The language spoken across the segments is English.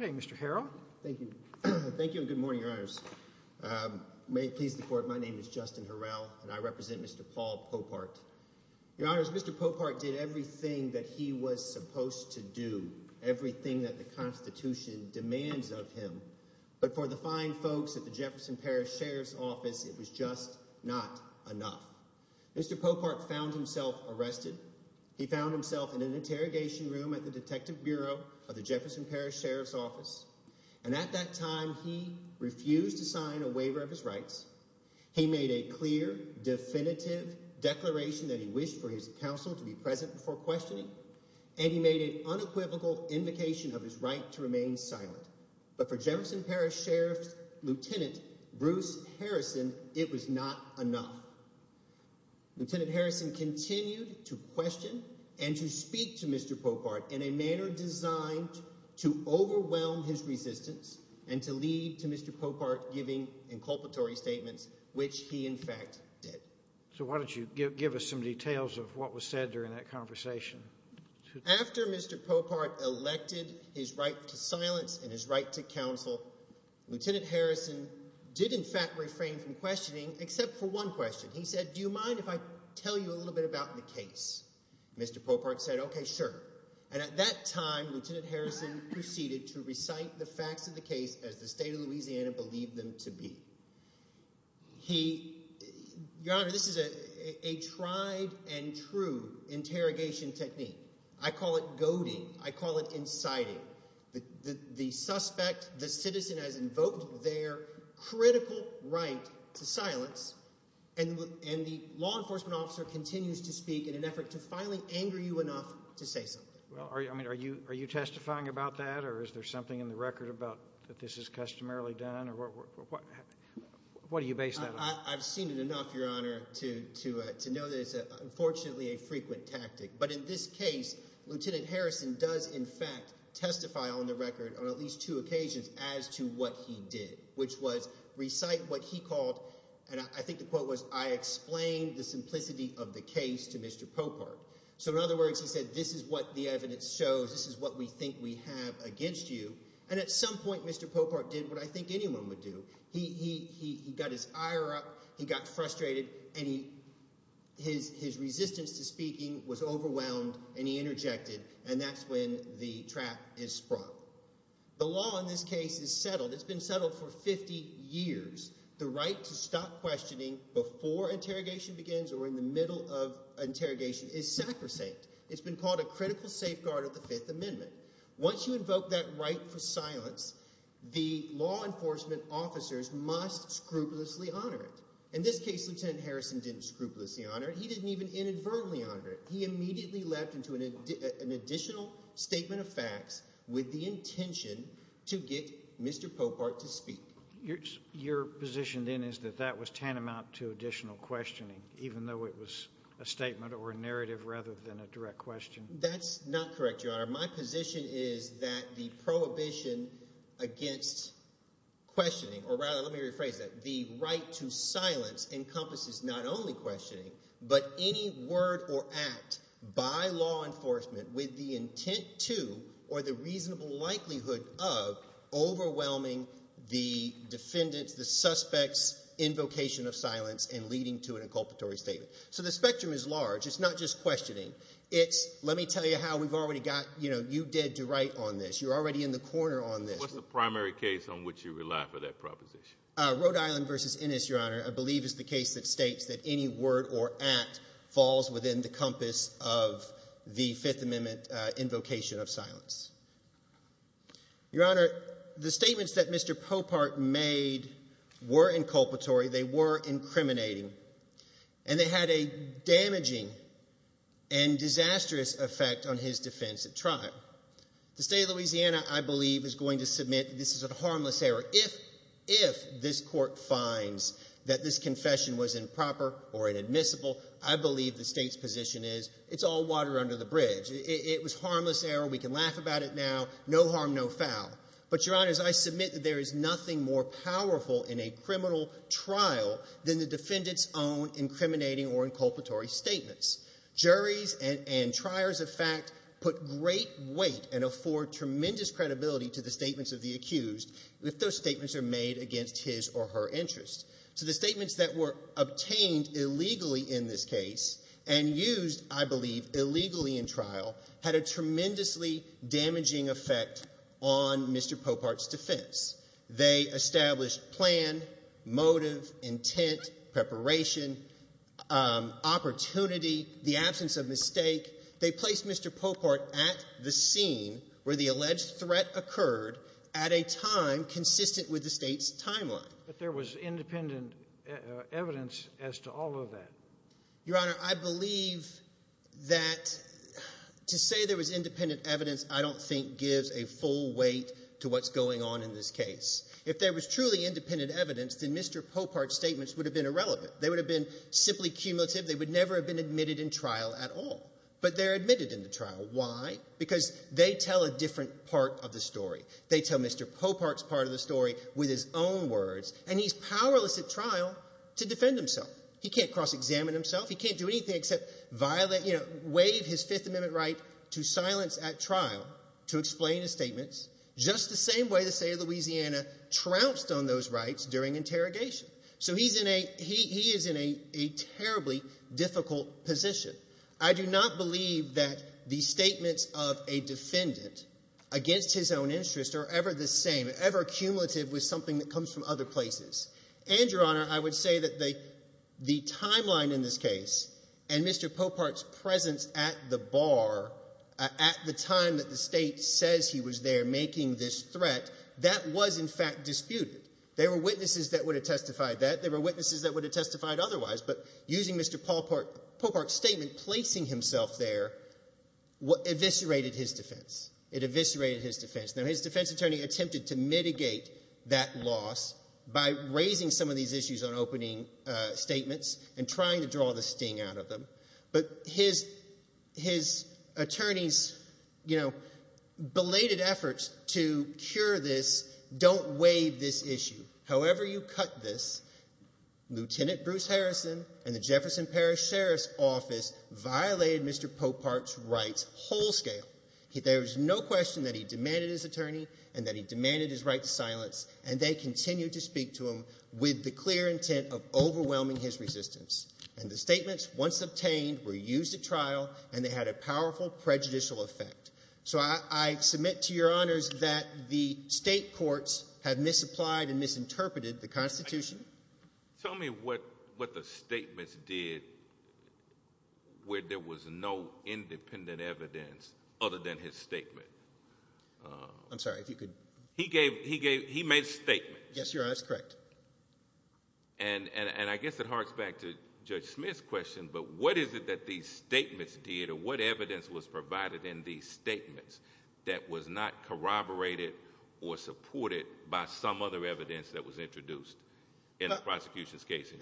Okay, Mr. Harrell, thank you. Thank you and good morning, Your Honors. May it please the Court, my name is Justin Harrell and I represent Mr. Paul Popart. Your Honors, Mr. Popart did everything that he was supposed to do, everything that the Constitution demands of him. But for the fine folks at the Jefferson Parish Sheriff's Office, it was just not enough. Mr. Popart found himself arrested. He found himself in an interrogation room at the Detective Bureau of the Jefferson Parish Sheriff's Office. And at that time, he refused to sign a waiver of his rights. He made a clear, definitive declaration that he wished for his counsel to be present before questioning and he made an unequivocal invocation of his right to remain silent. But for Jefferson Parish Sheriff's Lieutenant Bruce Harrison, it was not enough. Lieutenant Harrison continued to question and to speak to Mr. Popart in a manner designed to overwhelm his resistance and to lead to Mr. Popart giving inculpatory statements, which he in fact did. So why don't you give us some details of what was said during that conversation? After Mr. Popart elected his right to silence and his right to counsel, Lieutenant Harrison did in fact refrain from questioning except for one question. He said, do you mind if I tell you a little bit about the case? Mr. Popart said, okay, sure. And at that time, Lieutenant Harrison proceeded to recite the facts of the case as the state of Louisiana believed them to be. He, Your Honor, this is a tried and true interrogation technique. I call it goading. I call it inciting. The suspect, the citizen has invoked their critical right to silence and the law enforcement officer continues to speak in an effort to finally anger you enough to say something. Well, I mean, are you testifying about that or is there something in the record about that this is customarily done or what do you base that on? I've seen it enough, Your Honor, to know that it's unfortunately a frequent tactic. But in this case, Lieutenant Harrison does in fact testify on the record on at least two occasions as to what he did, which was recite what he called, and I think the quote was, I explained the simplicity of the case to Mr. Popart. So in other words, he said, this is what the evidence shows. This is what we think we have against you. And at some point, Mr. Popart did what I think anyone would do. He got his ire up, he got frustrated, and his resistance to speaking was overwhelmed and he interjected, and that's when the trap is sprung. The law in this case is settled. It's been settled for 50 years. The right to stop questioning before interrogation begins or in the middle of interrogation is sacrosanct. It's been called a critical safeguard of the Fifth Amendment. Once you invoke that right for silence, the law enforcement officers must scrupulously honor it. In this case, Lieutenant Harrison didn't scrupulously honor it. He didn't even inadvertently honor it. He immediately leapt into an additional statement of facts with the intention to get Mr. Popart to speak. Your position then is that that was tantamount to additional questioning, even though it was a statement or a narrative rather than a direct question? That's not correct, Your Honor. My position is that the prohibition against questioning, or rather let me rephrase that, the right to silence encompasses not only questioning, but any word or act by law enforcement with the intent to or the reasonable likelihood of overwhelming the defendant's, the suspect's invocation of silence and leading to an inculpatory statement. The spectrum is large. It's not just questioning. It's, let me tell you how we've already got, you know, you dead to right on this. You're already in the corner on this. What's the primary case on which you rely for that proposition? Rhode Island v. Ennis, Your Honor, I believe is the case that states that any word or act falls within the compass of the Fifth Amendment invocation of silence. Your Honor, the statements that Mr. Popart made were inculpatory. They were incriminating. And they had a damaging and disastrous effect on his defense at trial. The state of Louisiana, I believe, is going to submit this is a harmless error if, if this court finds that this confession was improper or inadmissible. I believe the state's position is it's all water under the bridge. It was harmless error. We can laugh about it now. No harm, no foul. But, Your Honor, as I submit, there is nothing more powerful in a criminal trial than the defendant's own incriminating or inculpatory statements. Juries and triers of fact put great weight and afford tremendous credibility to the statements of the accused if those statements are made against his or her interest. So the statements that were obtained illegally in this case and used, I believe, illegally in trial had a tremendously damaging effect on Mr. Popart's defense. They established plan, motive, intent, preparation, opportunity, the absence of mistake. They placed Mr. Popart at the scene where the alleged threat occurred at a time consistent with the state's timeline. But there was independent evidence as to all of that. Your Honor, I believe that to say there was independent evidence I don't think gives a full weight to what's going on in this case. If there was truly independent evidence, then Mr. Popart's statements would have been irrelevant. They would have been simply cumulative. They would never have been admitted in trial at all. But they're admitted in the trial. Why? Because they tell a different part of the story. They tell Mr. Popart's part of the story with his own words. And he's powerless at trial to defend himself. He can't cross-examine himself. He can't do anything except violate, you know, waive his Fifth Amendment right to silence at trial to explain his statements just the same way the state of Louisiana trounced on those rights during interrogation. So he is in a terribly difficult position. I do not believe that the statements of a defendant against his own interest are ever the same, ever cumulative with something that comes from other places. And, Your Honor, I would say that the timeline in this case and Mr. Popart's presence at the bar at the time that the state says he was there making this threat, that was, in fact, disputed. There were witnesses that would have testified that. There were witnesses that would have testified otherwise. But using Mr. Popart's statement, placing himself there, eviscerated his defense. It eviscerated his defense. Now, his defense attorney attempted to mitigate that loss by raising some of these issues on opening statements and trying to draw the sting out of them. But his attorney's, you know, belated efforts to cure this don't waive this issue. However you cut this, Lieutenant Bruce Harrison and the Jefferson Parish Sheriff's Office violated Mr. Popart's rights whole scale. There is no question that he demanded his attorney and that he demanded his right to silence and they continued to speak to him with the clear intent of overwhelming his resistance. And the statements, once obtained, were used at trial and they had a powerful prejudicial effect. So I submit to Your Honors that the state courts have misapplied and misinterpreted the Constitution. Tell me what the statements did where there was no independent evidence other than his statement. I'm sorry, if you could. He made statements. Yes, Your Honor, that's correct. And I guess it harks back to Judge Smith's question, but what is it that these statements did or what evidence was provided in these statements that was not corroborated or supported by some other evidence that was introduced in the prosecution's case?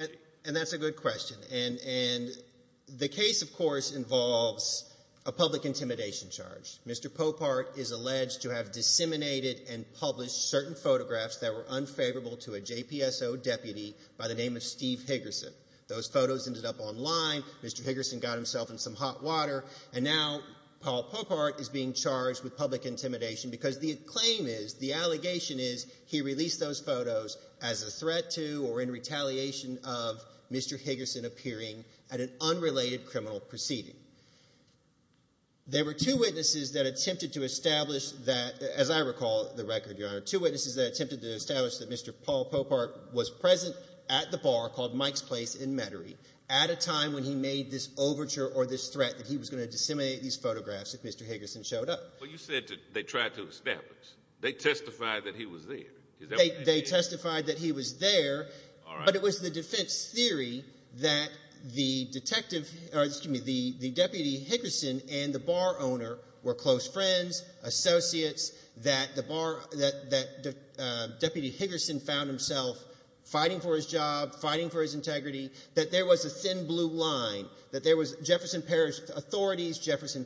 And that's a good question. And the case, of course, involves a public intimidation charge. Mr. Popart is alleged to have disseminated and published certain photographs that were unfavorable to a JPSO deputy by the name of Steve Higgerson. Those photos ended up online. Mr. Higgerson got himself in some hot water. And now Paul Popart is being charged with public intimidation because the claim is, the allegation is, he released those photos as a threat to or in retaliation of Mr. Higgerson appearing at an unrelated criminal proceeding. There were two witnesses that attempted to establish that, as I recall the record, Your Honor, two witnesses that attempted to establish that Mr. Paul Popart was present at the bar called Mike's Place in Metairie at a time when he made this overture or this threat that he was going to disseminate these photographs if Mr. Higgerson showed up. Well, you said they tried to establish. They testified that he was there. They testified that he was there, but it was the defense theory that the detective, or excuse me, the deputy Higgerson and the bar owner were close friends, associates, that the bar, that Deputy Higgerson found himself fighting for his job, fighting for his integrity, that there was a thin blue line, that there was Jefferson Parish authorities, Jefferson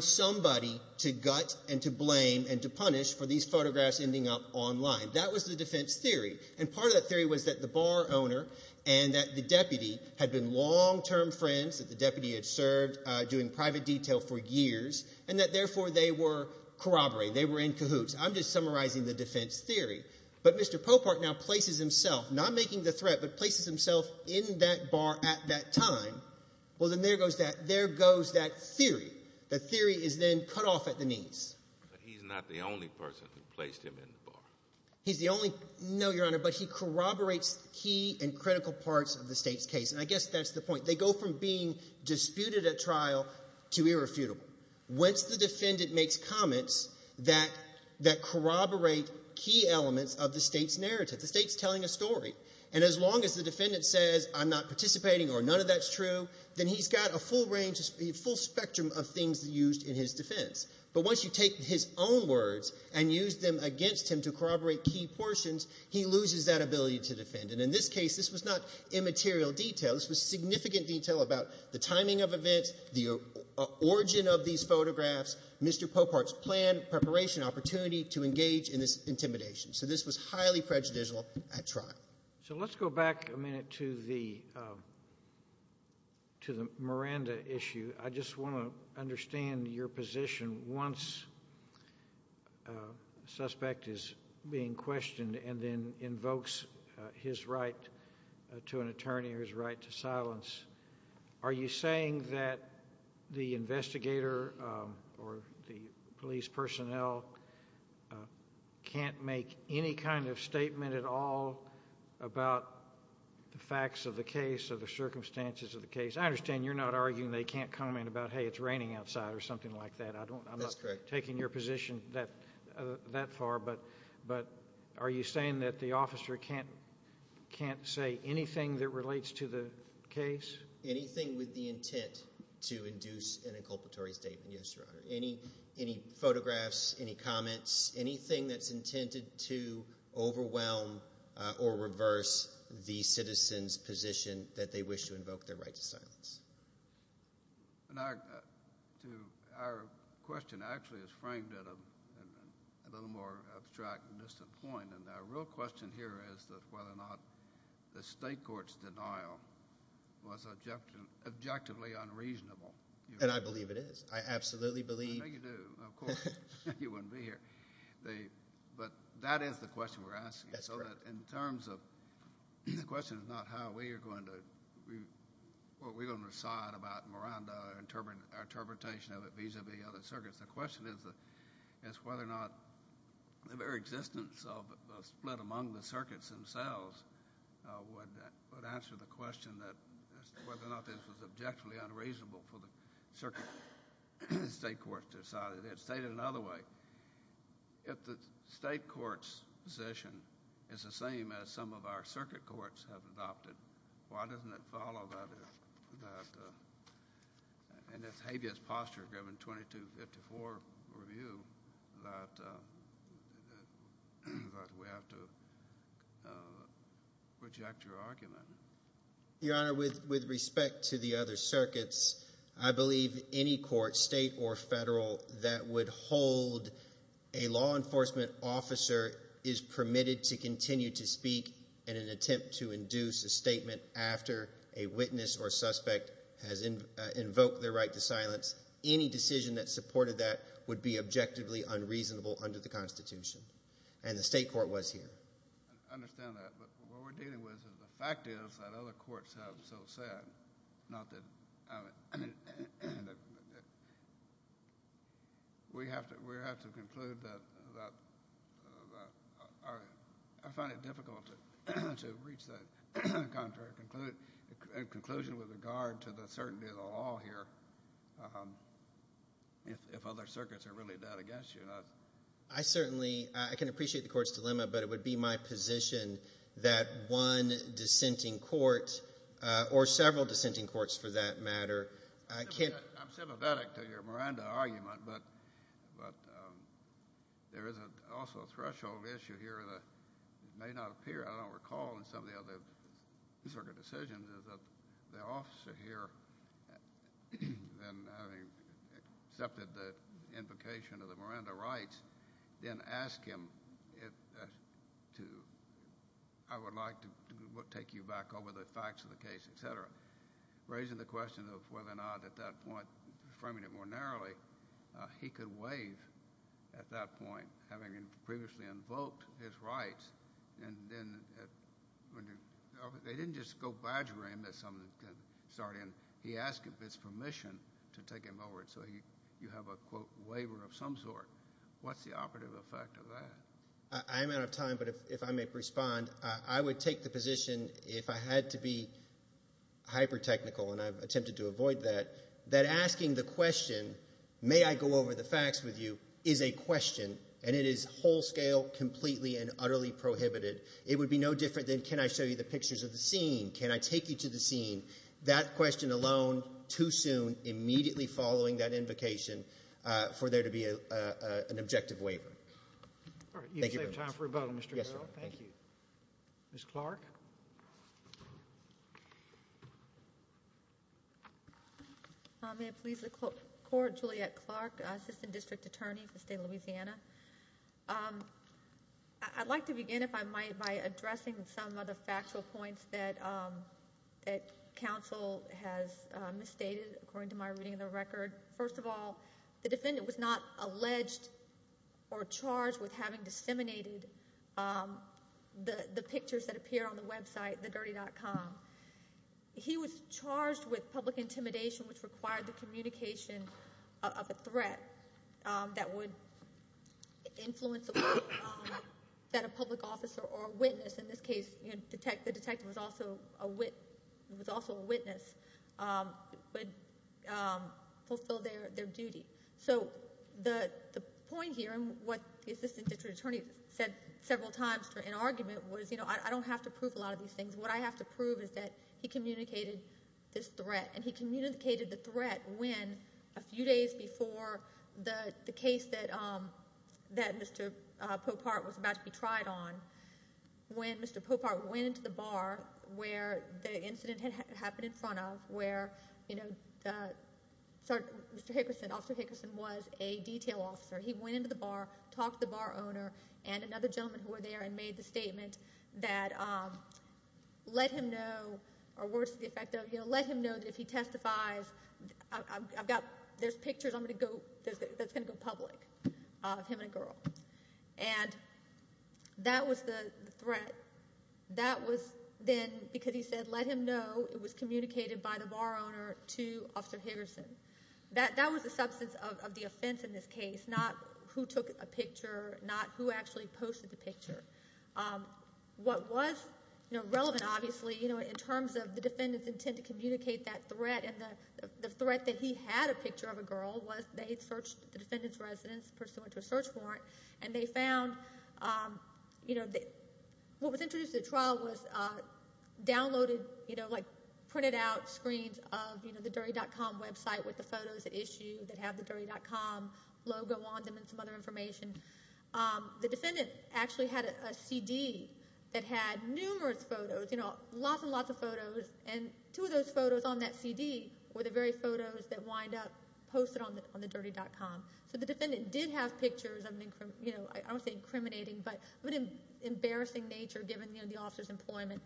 somebody to gut and to blame and to punish for these photographs ending up online. That was the defense theory, and part of that theory was that the bar owner and that the deputy had been long-term friends, that the deputy had served doing private detail for years, and that therefore they were corroborating. They were in cahoots. I'm just summarizing the defense theory. But Mr. Popart now places himself, not making the threat, but places himself in that bar at that time. Well, then there goes that. That theory, that theory is then cut off at the knees. He's not the only person who placed him in the bar. He's the only, no, Your Honor, but he corroborates key and critical parts of the state's case, and I guess that's the point. They go from being disputed at trial to irrefutable. Once the defendant makes comments that corroborate key elements of the state's narrative, the state's telling a story, and as long as the defendant says, I'm not participating or none of that's true, then he's got a full range, a full spectrum of things used in his defense. But once you take his own words and use them against him to corroborate key portions, he loses that ability to defend. And in this case, this was not immaterial detail. This was significant detail about the timing of events, the origin of these photographs, Mr. Popart's planned preparation, opportunity to engage in this intimidation. So this was highly prejudicial at trial. So let's go back a minute to the Miranda issue. I just want to understand your position. Once a suspect is being questioned and then invokes his right to an attorney or his right to silence, are you saying that the investigator or the police personnel can't make any kind of statement at all about the facts of the case or the circumstances of the case? I understand you're not arguing they can't comment about, hey, it's raining outside or something like that. That's correct. I'm not taking your position that far, but are you saying that the officer can't say anything that relates to the case? Anything with the intent to induce an inculpatory statement, yes, Your Honor. Any photographs, any comments, anything that's intended to overwhelm or reverse the citizen's position that they wish to invoke their right to silence? Our question actually is framed at a little more abstract and distant point. Our real question here is whether or not the state court's denial was objectively unreasonable. I believe it is. I absolutely believe it is. I bet you do. Of course, you wouldn't be here. But that is the question we're asking. That's correct. In terms of, the question is not how we are going to decide about Miranda or our interpretation of it vis-a-vis other circuits. The question is whether or not the very existence of a split among the circuits themselves would answer the question as to whether or not this was objectively unreasonable for the circuit state courts to decide it. It's stated another way. If the state court's position is the same as some of our circuit courts have adopted, why doesn't it follow that? And that's a habeas posture given 2254 review that we have to reject your argument. Your Honor, with respect to the other circuits, I believe any court, state or federal, that would hold a law enforcement officer is permitted to continue to speak in an attempt to induce a statement after a witness or suspect has invoked their right to silence. Any decision that supported that would be objectively unreasonable under the Constitution. And the state court was here. I understand that. But what we're dealing with is the fact is that other courts have so said. We have to conclude that I find it difficult to reach that contrary conclusion with regard to the certainty of the law here if other circuits are really dead against you. I certainly can appreciate the court's dilemma, but it would be my position that one dissenting court or several dissenting courts, for that matter, can't I'm sympathetic to your Miranda argument, but there is also a threshold issue here that may not appear, I don't recall, in some of the other circuit decisions is that the officer here, having accepted the invocation of the Miranda rights, then asked him, I would like to take you back over the facts of the case, etc. Raising the question of whether or not at that point, framing it more narrowly, he could waive at that point, having previously invoked his rights, and then they didn't just go badger him that someone could start in. He asked if it's permission to take him over. So you have a, quote, waiver of some sort. What's the operative effect of that? I'm out of time, but if I may respond, I would take the position, if I had to be hyper-technical, and I've attempted to avoid that, that asking the question, may I go over the facts with you, is a question, and it is whole scale, completely, and utterly prohibited. It would be no different than, can I show you the pictures of the scene? Can I take you to the scene? That question alone, too soon, immediately following that invocation for there to be an objective waiver. Thank you very much. You have time for a vote, Mr. Bell. Yes, sir. Thank you. Ms. Clark? May it please the Court, Juliet Clark, Assistant District Attorney for the State of Louisiana. I'd like to begin, if I might, by addressing some of the factual points that counsel has misstated, according to my reading of the record. First of all, the defendant was not alleged or charged with having disseminated the pictures that appear on the website, thedirty.com. He was charged with public intimidation, which required the communication of a threat that would influence the way that a public officer or witness, in this case, the detective was also a witness, would fulfill their duty. So the point here, and what the Assistant District Attorney said several times in argument was, you know, I don't have to prove a lot of these things. What I have to prove is that he communicated this threat. And he communicated the threat when, a few days before the case that Mr. Popart was about to be tried on, when Mr. Popart went into the bar where the incident had happened in front of, where Mr. Hickerson, Officer Hickerson, was a detail officer. He went into the bar, talked to the bar owner, and another gentleman who were there and made the statement that let him know, or words to the effect of, let him know that if he testifies, there's pictures that's going to go public of him and a girl. And that was the threat. That was then, because he said, let him know it was communicated by the bar owner to Officer Hickerson. That was the substance of the offense in this case, not who took a picture, not who actually posted the picture. What was relevant, obviously, in terms of the defendant's intent to communicate that threat and the threat that he had a picture of a girl, was they searched the defendant's residence, pursuant to a search warrant, and they found, you know, what was introduced to the trial was downloaded, you know, like printed out screens of, you know, the Dirty.com website with the photos at issue that have the Dirty.com logo on them and some other information. The defendant actually had a CD that had numerous photos, you know, lots and lots of photos, and two of those photos on that CD were the very photos that wind up posted on the Dirty.com. So the defendant did have pictures of, you know, I don't want to say incriminating, but of an embarrassing nature, given, you know, the officer's employment.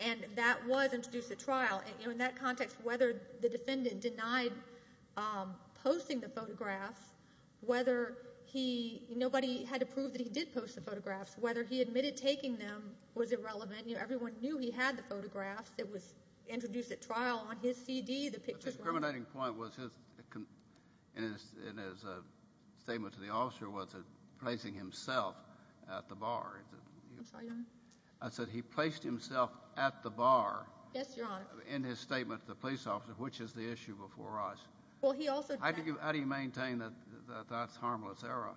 And that was introduced at trial. You know, in that context, whether the defendant denied posting the photographs, whether he, nobody had to prove that he did post the photographs, whether he admitted taking them was irrelevant. You know, everyone knew he had the photographs. It was introduced at trial on his CD, the pictures. The incriminating point in his statement to the officer was placing himself at the bar. I'm sorry, Your Honor? I said he placed himself at the bar in his statement to the police officer, which is the issue before us. How do you maintain that that's harmless error?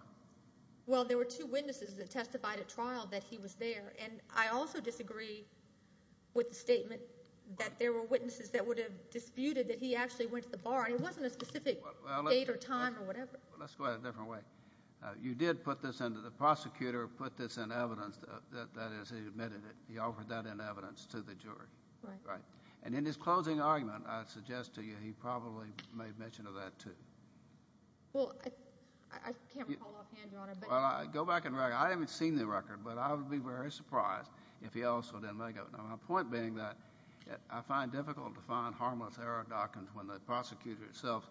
Well, there were two witnesses that testified at trial that he was there, and I also disagree with the statement that there were witnesses that would have disputed that he actually went to the bar, and it wasn't a specific date or time or whatever. Well, let's go at it a different way. You did put this in, the prosecutor put this in evidence, that is, he admitted it. He offered that in evidence to the jury. Right. And in his closing argument, I suggest to you, he probably made mention of that, too. Well, I can't recall offhand, Your Honor. Well, go back, I haven't seen the record, but I would be very surprised if he also didn't make it. My point being that I find it difficult to find harmless error documents when the prosecutor itself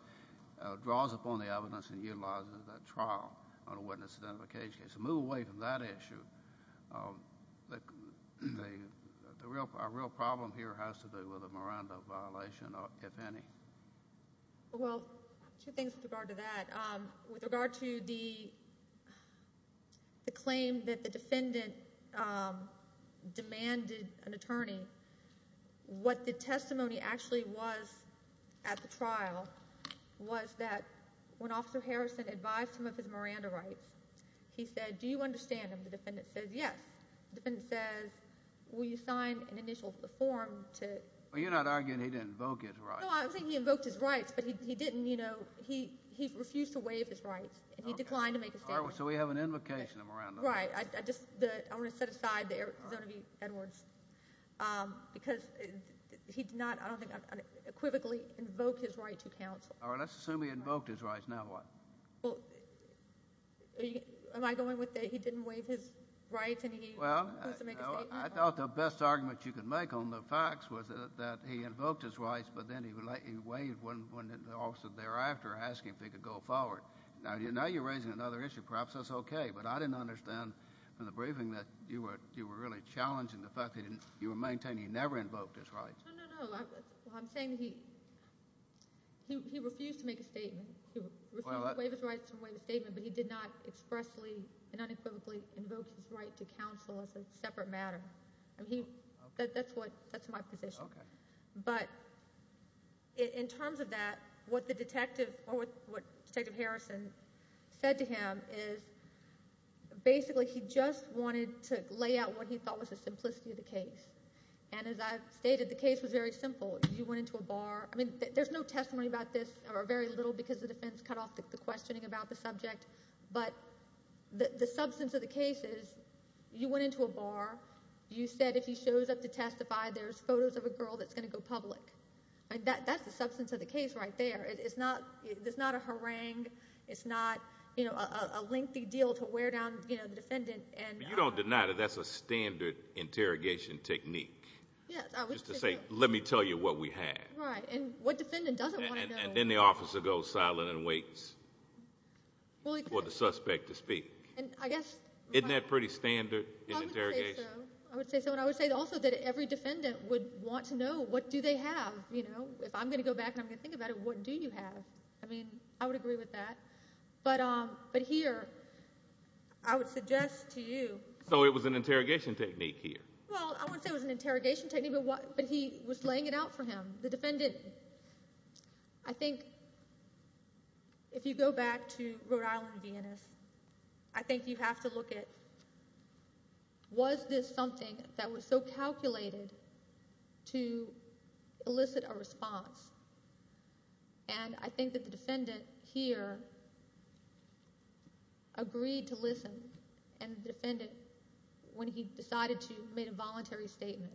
draws upon the evidence and utilizes it at trial on a witness identification case. So move away from that issue. Our real problem here has to do with a Miranda violation, if any. Well, two things with regard to that. With regard to the claim that the defendant demanded an attorney, what the testimony actually was at the trial was that when Officer Harrison advised him of his Miranda rights, he said, Do you understand? The defendant says, Yes. The defendant says, Will you sign an initial form to... Well, you're not arguing he didn't invoke his rights. No, I was saying he invoked his rights, but he didn't, you know. He refused to waive his rights, and he declined to make a statement. All right. So we have an invocation of Miranda. Right. I just want to set aside the zone of Edwards because he did not, I don't think, unequivocally invoke his right to counsel. All right. Let's assume he invoked his rights. Now what? Well, am I going with that he didn't waive his rights and he refused to make a statement? Well, no. I thought the best argument you could make on the facts was that he invoked his rights, but then he waived when the officer thereafter asked him if he could go forward. Now you're raising another issue. Perhaps that's okay, but I didn't understand from the briefing that you were really challenging the fact that you were maintaining he never invoked his rights. No, no, no. I'm saying he refused to make a statement. He refused to waive his rights and waive his statement, but he did not expressly and unequivocally invoke his right to counsel as a separate matter. That's my position. Okay. But in terms of that, what the detective or what Detective Harrison said to him is basically he just wanted to lay out what he thought was the simplicity of the case. And as I've stated, the case was very simple. You went into a bar. I mean, there's no testimony about this or very little because the defense cut off the questioning about the subject, but the substance of the case is you went into a bar. You said if he shows up to testify, there's photos of a girl that's going to go public. That's the substance of the case right there. It's not a harangue. It's not a lengthy deal to wear down the defendant. But you don't deny that that's a standard interrogation technique just to say, let me tell you what we have. Right, and what defendant doesn't want to know. And then the officer goes silent and waits for the suspect to speak. Isn't that pretty standard in interrogation? I would say so. The defendant would want to know, what do they have? If I'm going to go back and I'm going to think about it, what do you have? I mean, I would agree with that. But here, I would suggest to you. So it was an interrogation technique here? Well, I wouldn't say it was an interrogation technique, but he was laying it out for him. The defendant, I think if you go back to Rhode Island and Viennese, I think you have to look at, was this something that was so calculated to elicit a response? And I think that the defendant here agreed to listen. And the defendant, when he decided to, made a voluntary statement.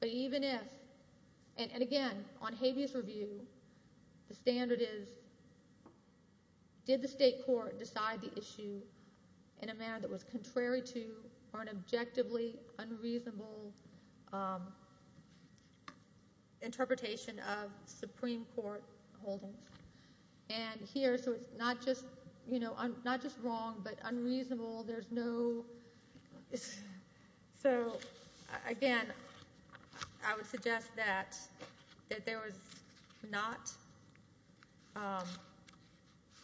But even if, and again, on habeas review, the standard is, did the state court decide the issue in a manner that was contrary to or an objectively unreasonable interpretation of Supreme Court holdings? And here, so it's not just wrong, but unreasonable. There's no, so again, I would suggest that there was not,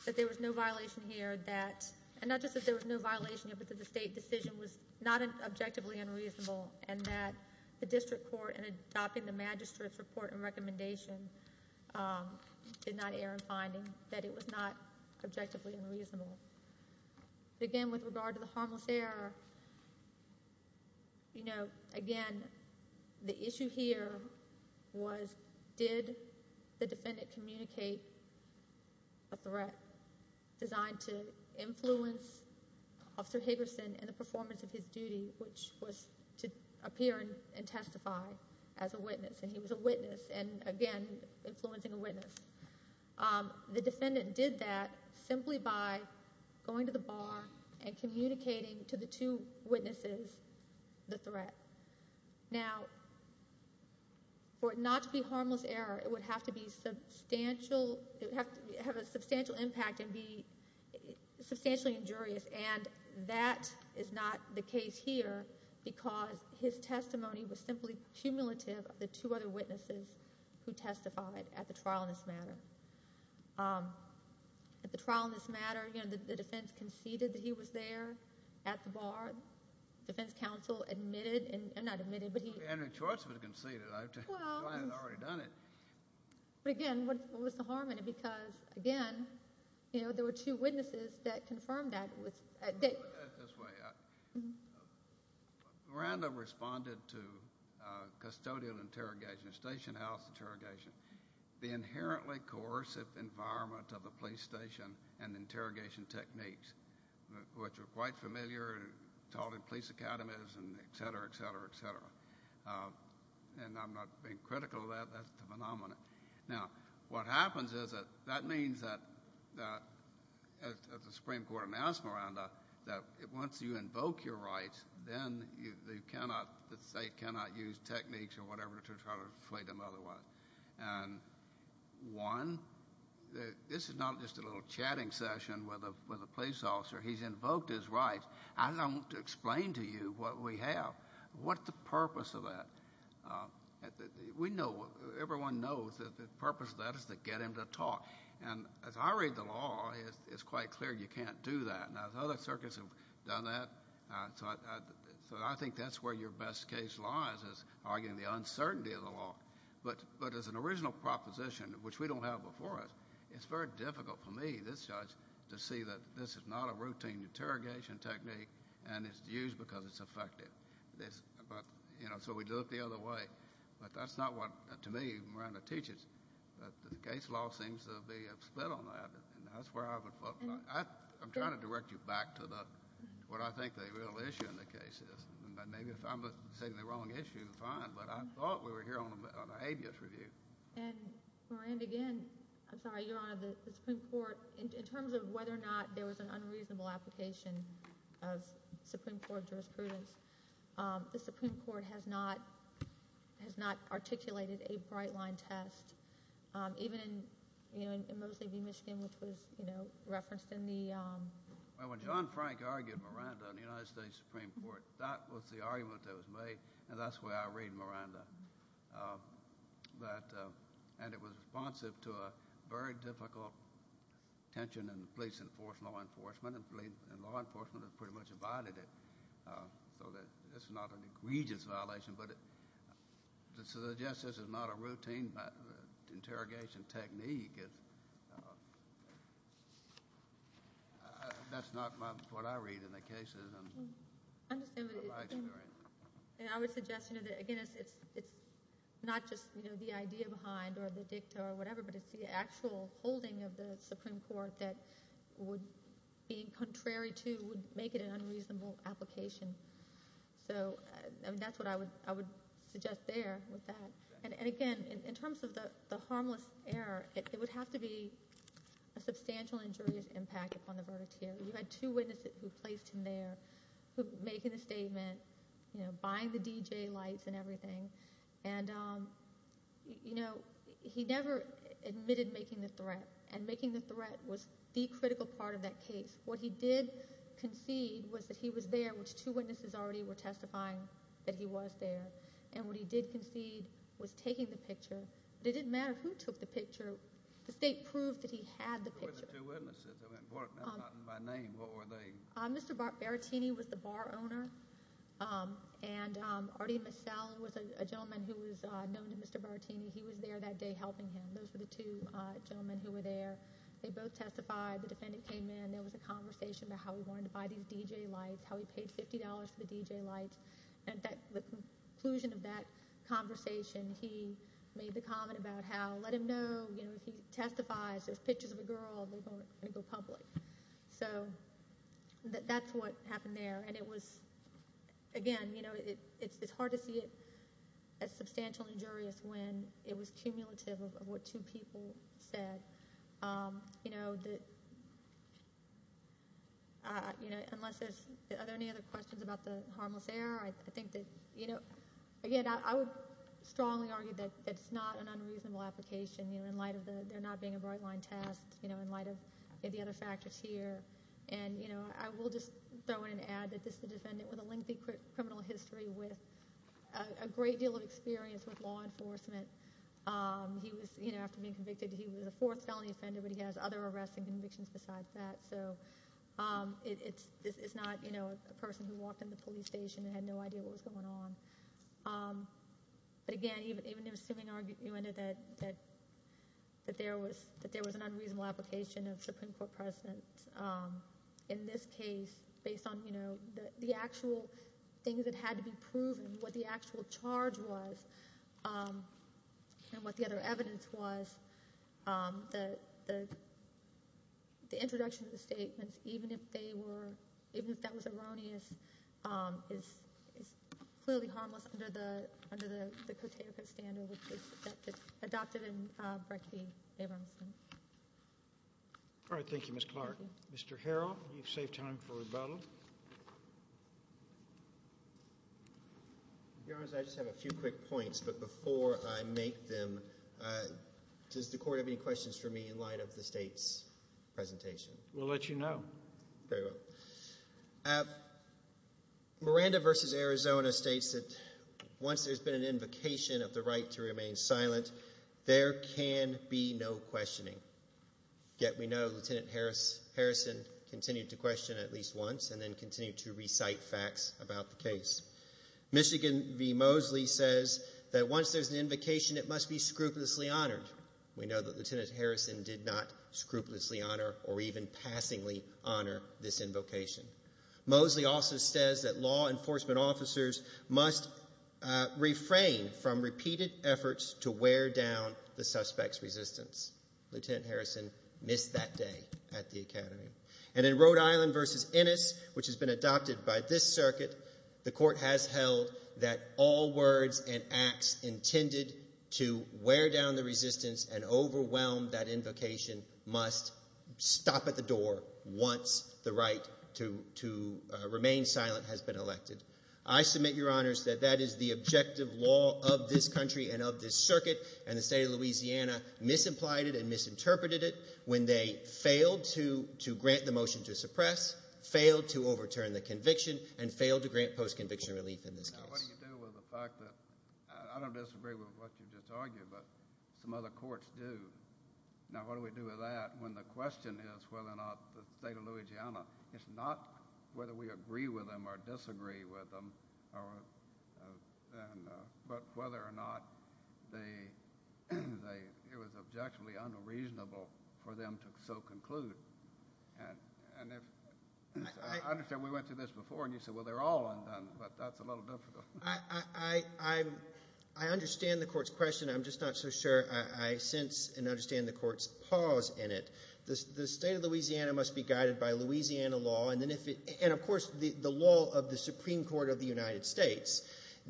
that there was no violation here that, and not just that there was no violation here, but that the state decision was not objectively unreasonable and that the district court in adopting the magistrate's report and recommendation did not err in finding that it was not objectively unreasonable. But again, with regard to the harmless error, you know, again, the issue here was, did the defendant communicate a threat designed to influence Officer Haverson in the performance of his duty, which was to appear and testify as a witness. And he was a witness, and again, influencing a witness. The defendant did that simply by going to the bar and communicating to the two witnesses the threat. Now, for it not to be harmless error, it would have to be substantial, it would have to have a substantial impact and be substantially injurious, and that is not the case here because his testimony was simply cumulative of the two other witnesses who testified at the trial in this matter. At the trial in this matter, you know, the defense conceded that he was there at the bar. The defense counsel admitted, and not admitted, but he... Henry Choice was conceded. I had already done it. But again, what was the harm in it? Because, again, you know, there were two witnesses that confirmed that. This way. Miranda responded to custodial interrogation. Station house interrogation. The inherently coercive environment of the police station and interrogation techniques, which are quite familiar and taught in police academies and et cetera, et cetera, et cetera. And I'm not being critical of that. That's the phenomenon. Now, what happens is that that means that, as the Supreme Court announced Miranda, that once you invoke your rights, then the state cannot use techniques or whatever to try to inflate them otherwise. And one, this is not just a little chatting session with a police officer. He's invoked his rights. I don't explain to you what we have. What's the purpose of that? We know, everyone knows, that the purpose of that is to get him to talk. And as I read the law, it's quite clear you can't do that. Now, as other circuits have done that, so I think that's where your best case lies, is arguing the uncertainty of the law. But as an original proposition, which we don't have before us, it's very difficult for me, this judge, to see that this is not a routine interrogation technique and it's used because it's effective. So we do it the other way. But that's not what, to me, Miranda teaches. The case law seems to be split on that. And that's where I would fall. I'm trying to direct you back to what I think the real issue in the case is. Maybe if I'm stating the wrong issue, fine, but I thought we were here on an habeas review. And, Miranda, again, I'm sorry, Your Honor, the Supreme Court, in terms of whether or not there was an unreasonable application of Supreme Court jurisprudence, the Supreme Court has not articulated a bright-line test. Even in Mosley v. Michigan, which was referenced in the... Well, when John Frank argued Miranda in the United States Supreme Court, that was the argument that was made, and that's the way I read Miranda. And it was responsive to a very difficult tension in police-enforced law enforcement, and police-enforced law enforcement has pretty much abided it. So it's not an egregious violation, but to suggest this is not a routine interrogation technique, that's not what I read in the cases in my experience. And I would suggest, again, it's not just the idea behind or the dicta or whatever, but it's the actual holding of the Supreme Court that would, being contrary to, would make it an unreasonable application. So that's what I would suggest there with that. And, again, in terms of the harmless error, it would have to be a substantial injurious impact upon the verdict here. You had two witnesses who placed him there, who were making a statement, buying the DJ lights and everything. And, you know, he never admitted making the threat, and making the threat was the critical part of that case. What he did concede was that he was there, which two witnesses already were testifying that he was there. And what he did concede was taking the picture. It didn't matter who took the picture. The state proved that he had the picture. Who were the two witnesses? I mean, that's not in my name. What were they? Mr. Barattini was the bar owner. And Artie Masell was a gentleman who was known to Mr. Barattini. He was there that day helping him. Those were the two gentlemen who were there. They both testified. The defendant came in. There was a conversation about how he wanted to buy these DJ lights, how he paid $50 for the DJ lights. And at the conclusion of that conversation, he made the comment about how let him know, you know, if he testifies, there's pictures of a girl, they're going to go public. So that's what happened there. And it was, again, you know, it's hard to see it as substantial and injurious when it was cumulative of what two people said. You know, unless there's, are there any other questions about the harmless error? I think that, you know, I would strongly argue that it's not an unreasonable application, you know, in light of the, they're not being a bright line test, you know, in light of the other factors here. And, you know, I will just throw in an ad that this is a defendant with a lengthy criminal history with a great deal of experience with law enforcement. He was, you know, after being convicted, he was a fourth felony offender, but he has other arrests and convictions besides that. So it's not, you know, a person who walked in the police station and had no idea what was going on. But again, even assuming that there was an unreasonable application of Supreme Court precedent in this case, based on, you know, the actual things that had to be proven, what the actual charge was, and what the other evidence was, the introduction of the statements, even if they were, even if that was erroneous, is clearly harmless under the, under the Cotega standard, which is adopted in Breckey-Abramson. All right. Thank you, Ms. Clark. Mr. Harrell, you've saved time for rebuttal. Your Honor, I just have a few quick points, but before I make them, does the court have any questions for me in light of the state's presentation? We'll let you know. Very well. Miranda v. Arizona states that once there's been an invocation of the right to remain silent, there can be no questioning. Yet we know Lieutenant Harrison continued to question at least once and then continued to recite facts about the case. Michigan v. Mosley says that once there's an invocation, it must be scrupulously honored. We know that Lieutenant Harrison did not scrupulously honor or even passingly honor this invocation. Mosley also says that law enforcement officers must refrain from repeated efforts to wear down the suspect's resistance. Lieutenant Harrison missed that day at the Academy. And in Rhode Island v. Ennis, which has been adopted by this circuit, the court has held that all words and acts intended to wear down the resistance and overwhelm that invocation must stop at the door once the right to remain silent has been elected. I submit, Your Honors, that that is the objective law of this country and of this circuit. And the state of Louisiana misimplied it and misinterpreted it when they failed to grant the motion to suppress, failed to overturn the conviction, and failed to grant post-conviction relief in this case. Now, what do you do with the fact that I don't disagree with what you just argued, but some other courts do? Now, what do we do with that when the question is whether or not the state of Louisiana, it's not whether we agree with them or disagree with them, but whether or not it was objectively unreasonable for them to so conclude. I understand we went through this before, and you said, well, they're all undone, but that's a little difficult. I understand the court's question. I'm just not so sure I sense and understand the court's pause in it. The state of Louisiana must be guided by Louisiana law, and of course the law of the Supreme Court of the United States.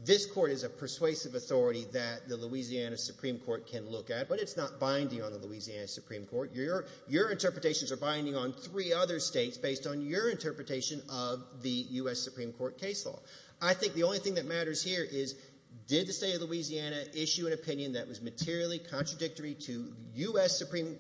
This court is a persuasive authority that the Louisiana Supreme Court can look at, but it's not binding on the Louisiana Supreme Court. Your interpretations are binding on three other states based on your interpretation of the U.S. Supreme Court case law. I think the only thing that matters here is did the state of Louisiana issue an opinion that was materially contradictory to U.S. Supreme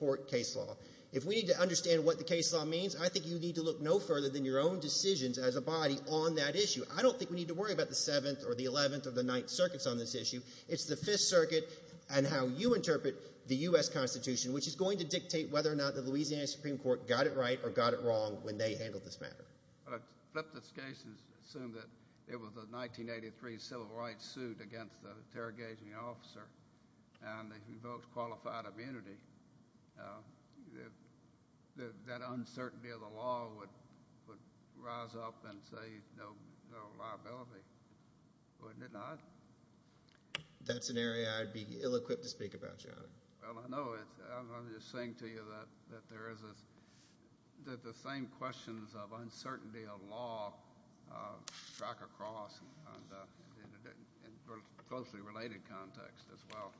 Court case law? If we need to understand what the case law means, I think you need to look no further than your own decisions as a body on that issue. I don't think we need to worry about the 7th or the 11th or the 9th circuits on this issue. It's the 5th Circuit and how you interpret the U.S. Constitution, which is going to dictate whether or not the Louisiana Supreme Court got it right or got it wrong when they handled this matter. I'd flip this case and assume that it was a 1983 civil rights suit against an interrogating officer and they revoked qualified immunity. That uncertainty of the law would rise up and say no liability. Wouldn't it not? That's an area I'd be ill-equipped to speak about, Your Honor. Well, I know. I'm just saying to you that the same questions of uncertainty of law strike across in a closely related context as well.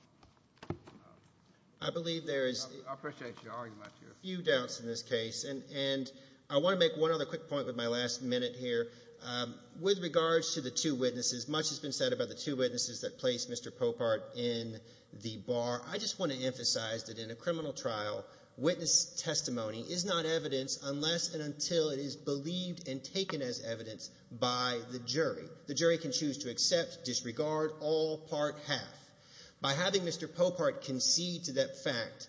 I believe there is... I appreciate your argument. ...a few doubts in this case. And I want to make one other quick point with my last minute here. With regards to the two witnesses, much has been said about the two witnesses that placed Mr. Popart in the bar. I just want to emphasize that in a criminal trial, witness testimony is not evidence unless and until it is believed and taken as evidence by the jury. The jury can choose to accept, disregard, all, part, half. By having Mr. Popart concede to that fact,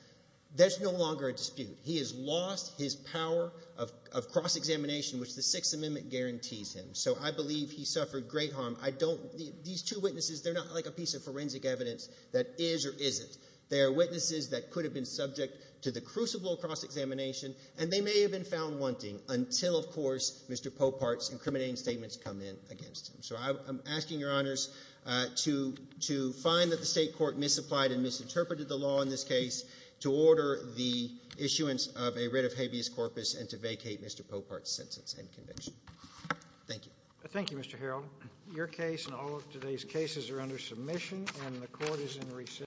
there's no longer a dispute. He has lost his power of cross-examination, which the Sixth Amendment guarantees him. So I believe he suffered great harm. I don't... These two witnesses, they're not like a piece of forensic evidence that is or isn't. They are witnesses that could have been subject to the crucible of cross-examination and they may have been found wanting until, of course, Mr. Popart's incriminating statements come in against him. So I'm asking Your Honors to find that the State Court misapplied and misinterpreted the law in this case, to order the issuance of a writ of habeas corpus and to vacate Mr. Popart's sentence and conviction. Thank you. Thank you, Mr. Harrell. Your case and all of today's cases are under submission and the Court is in recess.